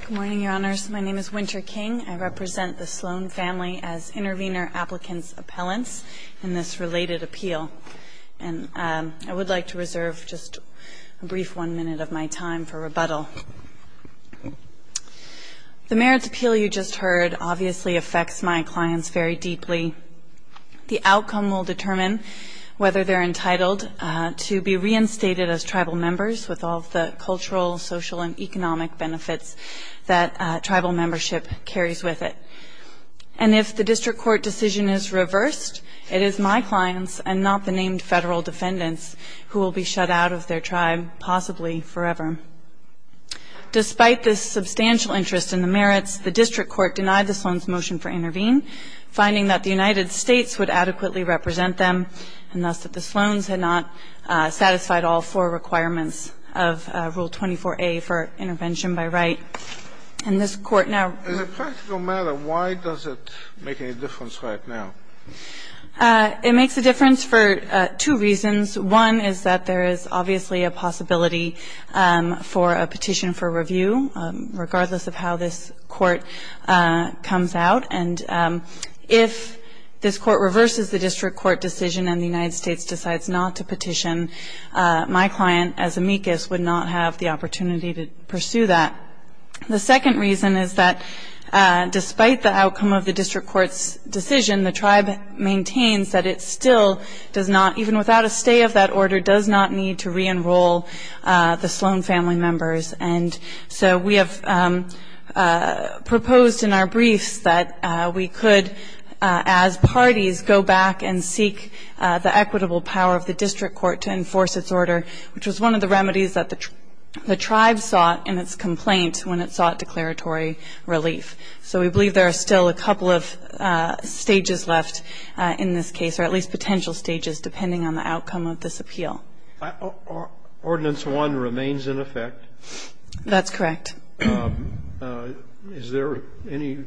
Good morning, Your Honors. My name is Winter King. I represent the Sloan family as Intervenor Applicant's Appellants in this related appeal. And I would like to reserve just a brief one minute of my time for rebuttal. The merits appeal you just heard obviously affects my clients very deeply. The outcome will determine whether they're entitled to be reinstated as tribal members with all of the cultural, social, and economic benefits that tribal membership carries with it. And if the district court decision is reversed, it is my clients and not the named federal defendants who will be shut out of their tribe, possibly forever. Despite this substantial interest in the merits, the district court denied the Sloan's motion for intervene, finding that the United States would adequately represent them, and thus that the Sloans had not satisfied all four requirements of Rule 24A for intervention by right. And this Court now ---- In a practical matter, why does it make any difference right now? It makes a difference for two reasons. One is that there is obviously a possibility for a petition for review, regardless of how this Court comes out. And if this Court reverses the district court decision and the United States decides not to petition, my client, as amicus, would not have the opportunity to pursue that. The second reason is that despite the outcome of the district court's decision, the tribe maintains that it still does not, even without a stay of that order, does not need to re-enroll the Sloan family members. And so we have proposed in our briefs that we could, as parties, go back and seek the equitable power of the district court to enforce its order, which was one of the remedies that the tribe sought in its complaint when it sought declaratory relief. So we believe there are still a couple of stages left in this case, or at least potential stages depending on the outcome of this appeal. Ordinance 1 remains in effect. That's correct. Is there any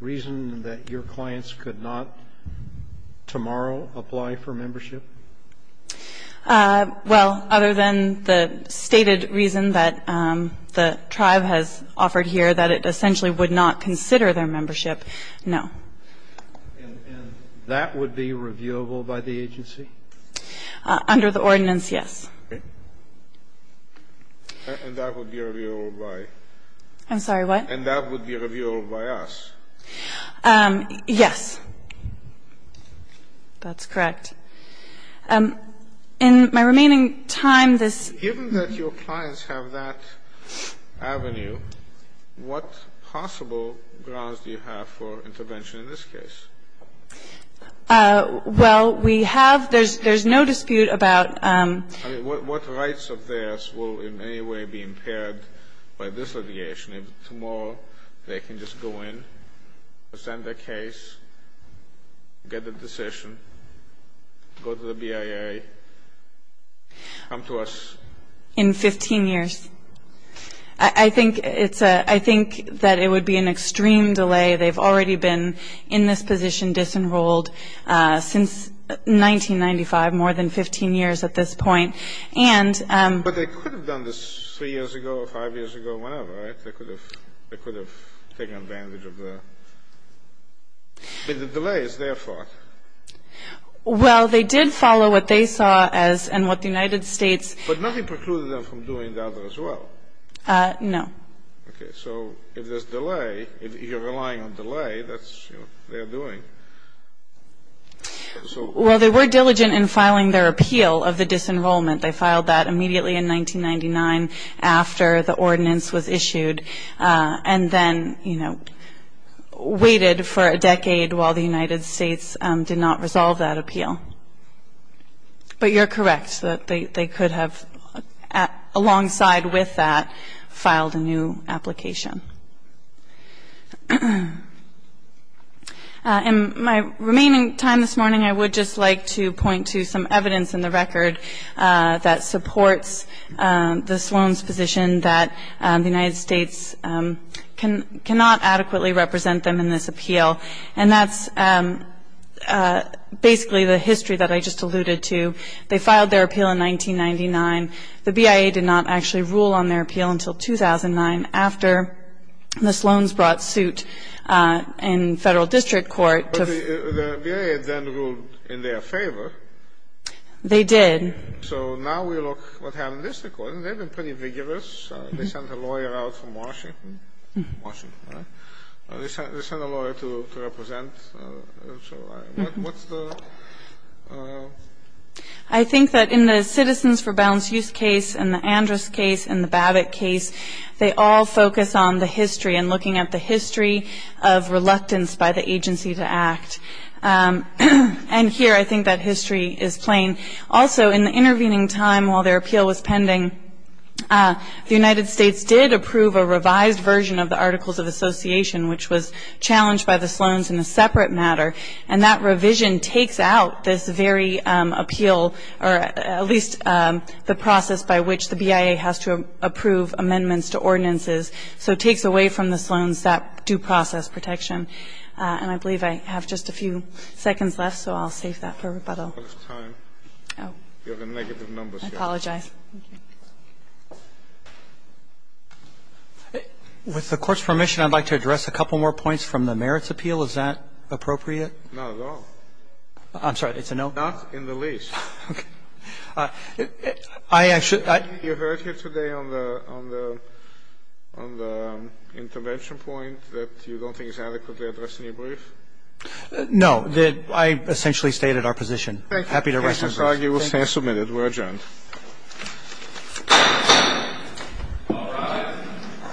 reason that your clients could not tomorrow apply for membership? Well, other than the stated reason that the tribe has offered here, that it essentially would not consider their membership, no. And that would be reviewable by the agency? Under the ordinance, yes. Okay. And that would be reviewable by? I'm sorry, what? And that would be reviewable by us? Yes. That's correct. In my remaining time, this ---- Given that your clients have that avenue, what possible grounds do you have for intervention in this case? Well, we have ---- there's no dispute about ---- I mean, what rights of theirs will in any way be impaired by this litigation? If tomorrow they can just go in, send their case, get the decision, go to the BIA, come to us? In 15 years. I think it's a ---- I think that it would be an extreme delay. They've already been in this position, disenrolled, since 1995, more than 15 years at this point. And ---- But they could have done this 3 years ago, 5 years ago, whenever, right? They could have taken advantage of the ---- The delay is their fault. Well, they did follow what they saw as and what the United States ---- But nothing precluded them from doing that as well? No. Okay. So if there's delay, if you're relying on delay, that's, you know, they're doing. So ---- Well, they were diligent in filing their appeal of the disenrollment. They filed that immediately in 1999, after the ordinance was issued, and then, you know, waited for a decade while the United States did not resolve that appeal. But you're correct that they could have, alongside with that, filed a new application. In my remaining time this morning, I would just like to point to some evidence in the record that supports the Sloan's position that the United States cannot adequately represent them in this appeal. And that's basically the history that I just alluded to. They filed their appeal in 1999. The BIA did not actually rule on their appeal until 2009, after the Sloan's brought suit in Federal District Court to ---- But the BIA then ruled in their favor. They did. So now we look at what happened in this record, and they've been pretty vigorous. They sent a lawyer out from Washington. Washington, right? They sent a lawyer to represent. So what's the ---- I think that in the Citizens for Balance Use case and the Andrus case and the Babbitt case, they all focus on the history and looking at the history of reluctance by the agency to act. And here I think that history is plain. Also, in the intervening time while their appeal was pending, the United States did approve a revised version of the Articles of Association, which was challenged by the Sloan's in a separate matter. And that revision takes out this very appeal, or at least the process by which the BIA has to approve amendments to ordinances. So it takes away from the Sloan's that due process protection. And I believe I have just a few seconds left, so I'll save that for rebuttal. I apologize. With the Court's permission, I'd like to address a couple more points from the merits appeal. First of all, is that appropriate? Not at all. I'm sorry. It's a no? Not in the least. Okay. I actually ---- You heard here today on the intervention point that you don't think it's adequately addressed in your brief? No. I essentially stated our position. Thank you. Happy to resubmit. Thank you. We're adjourned. All rise.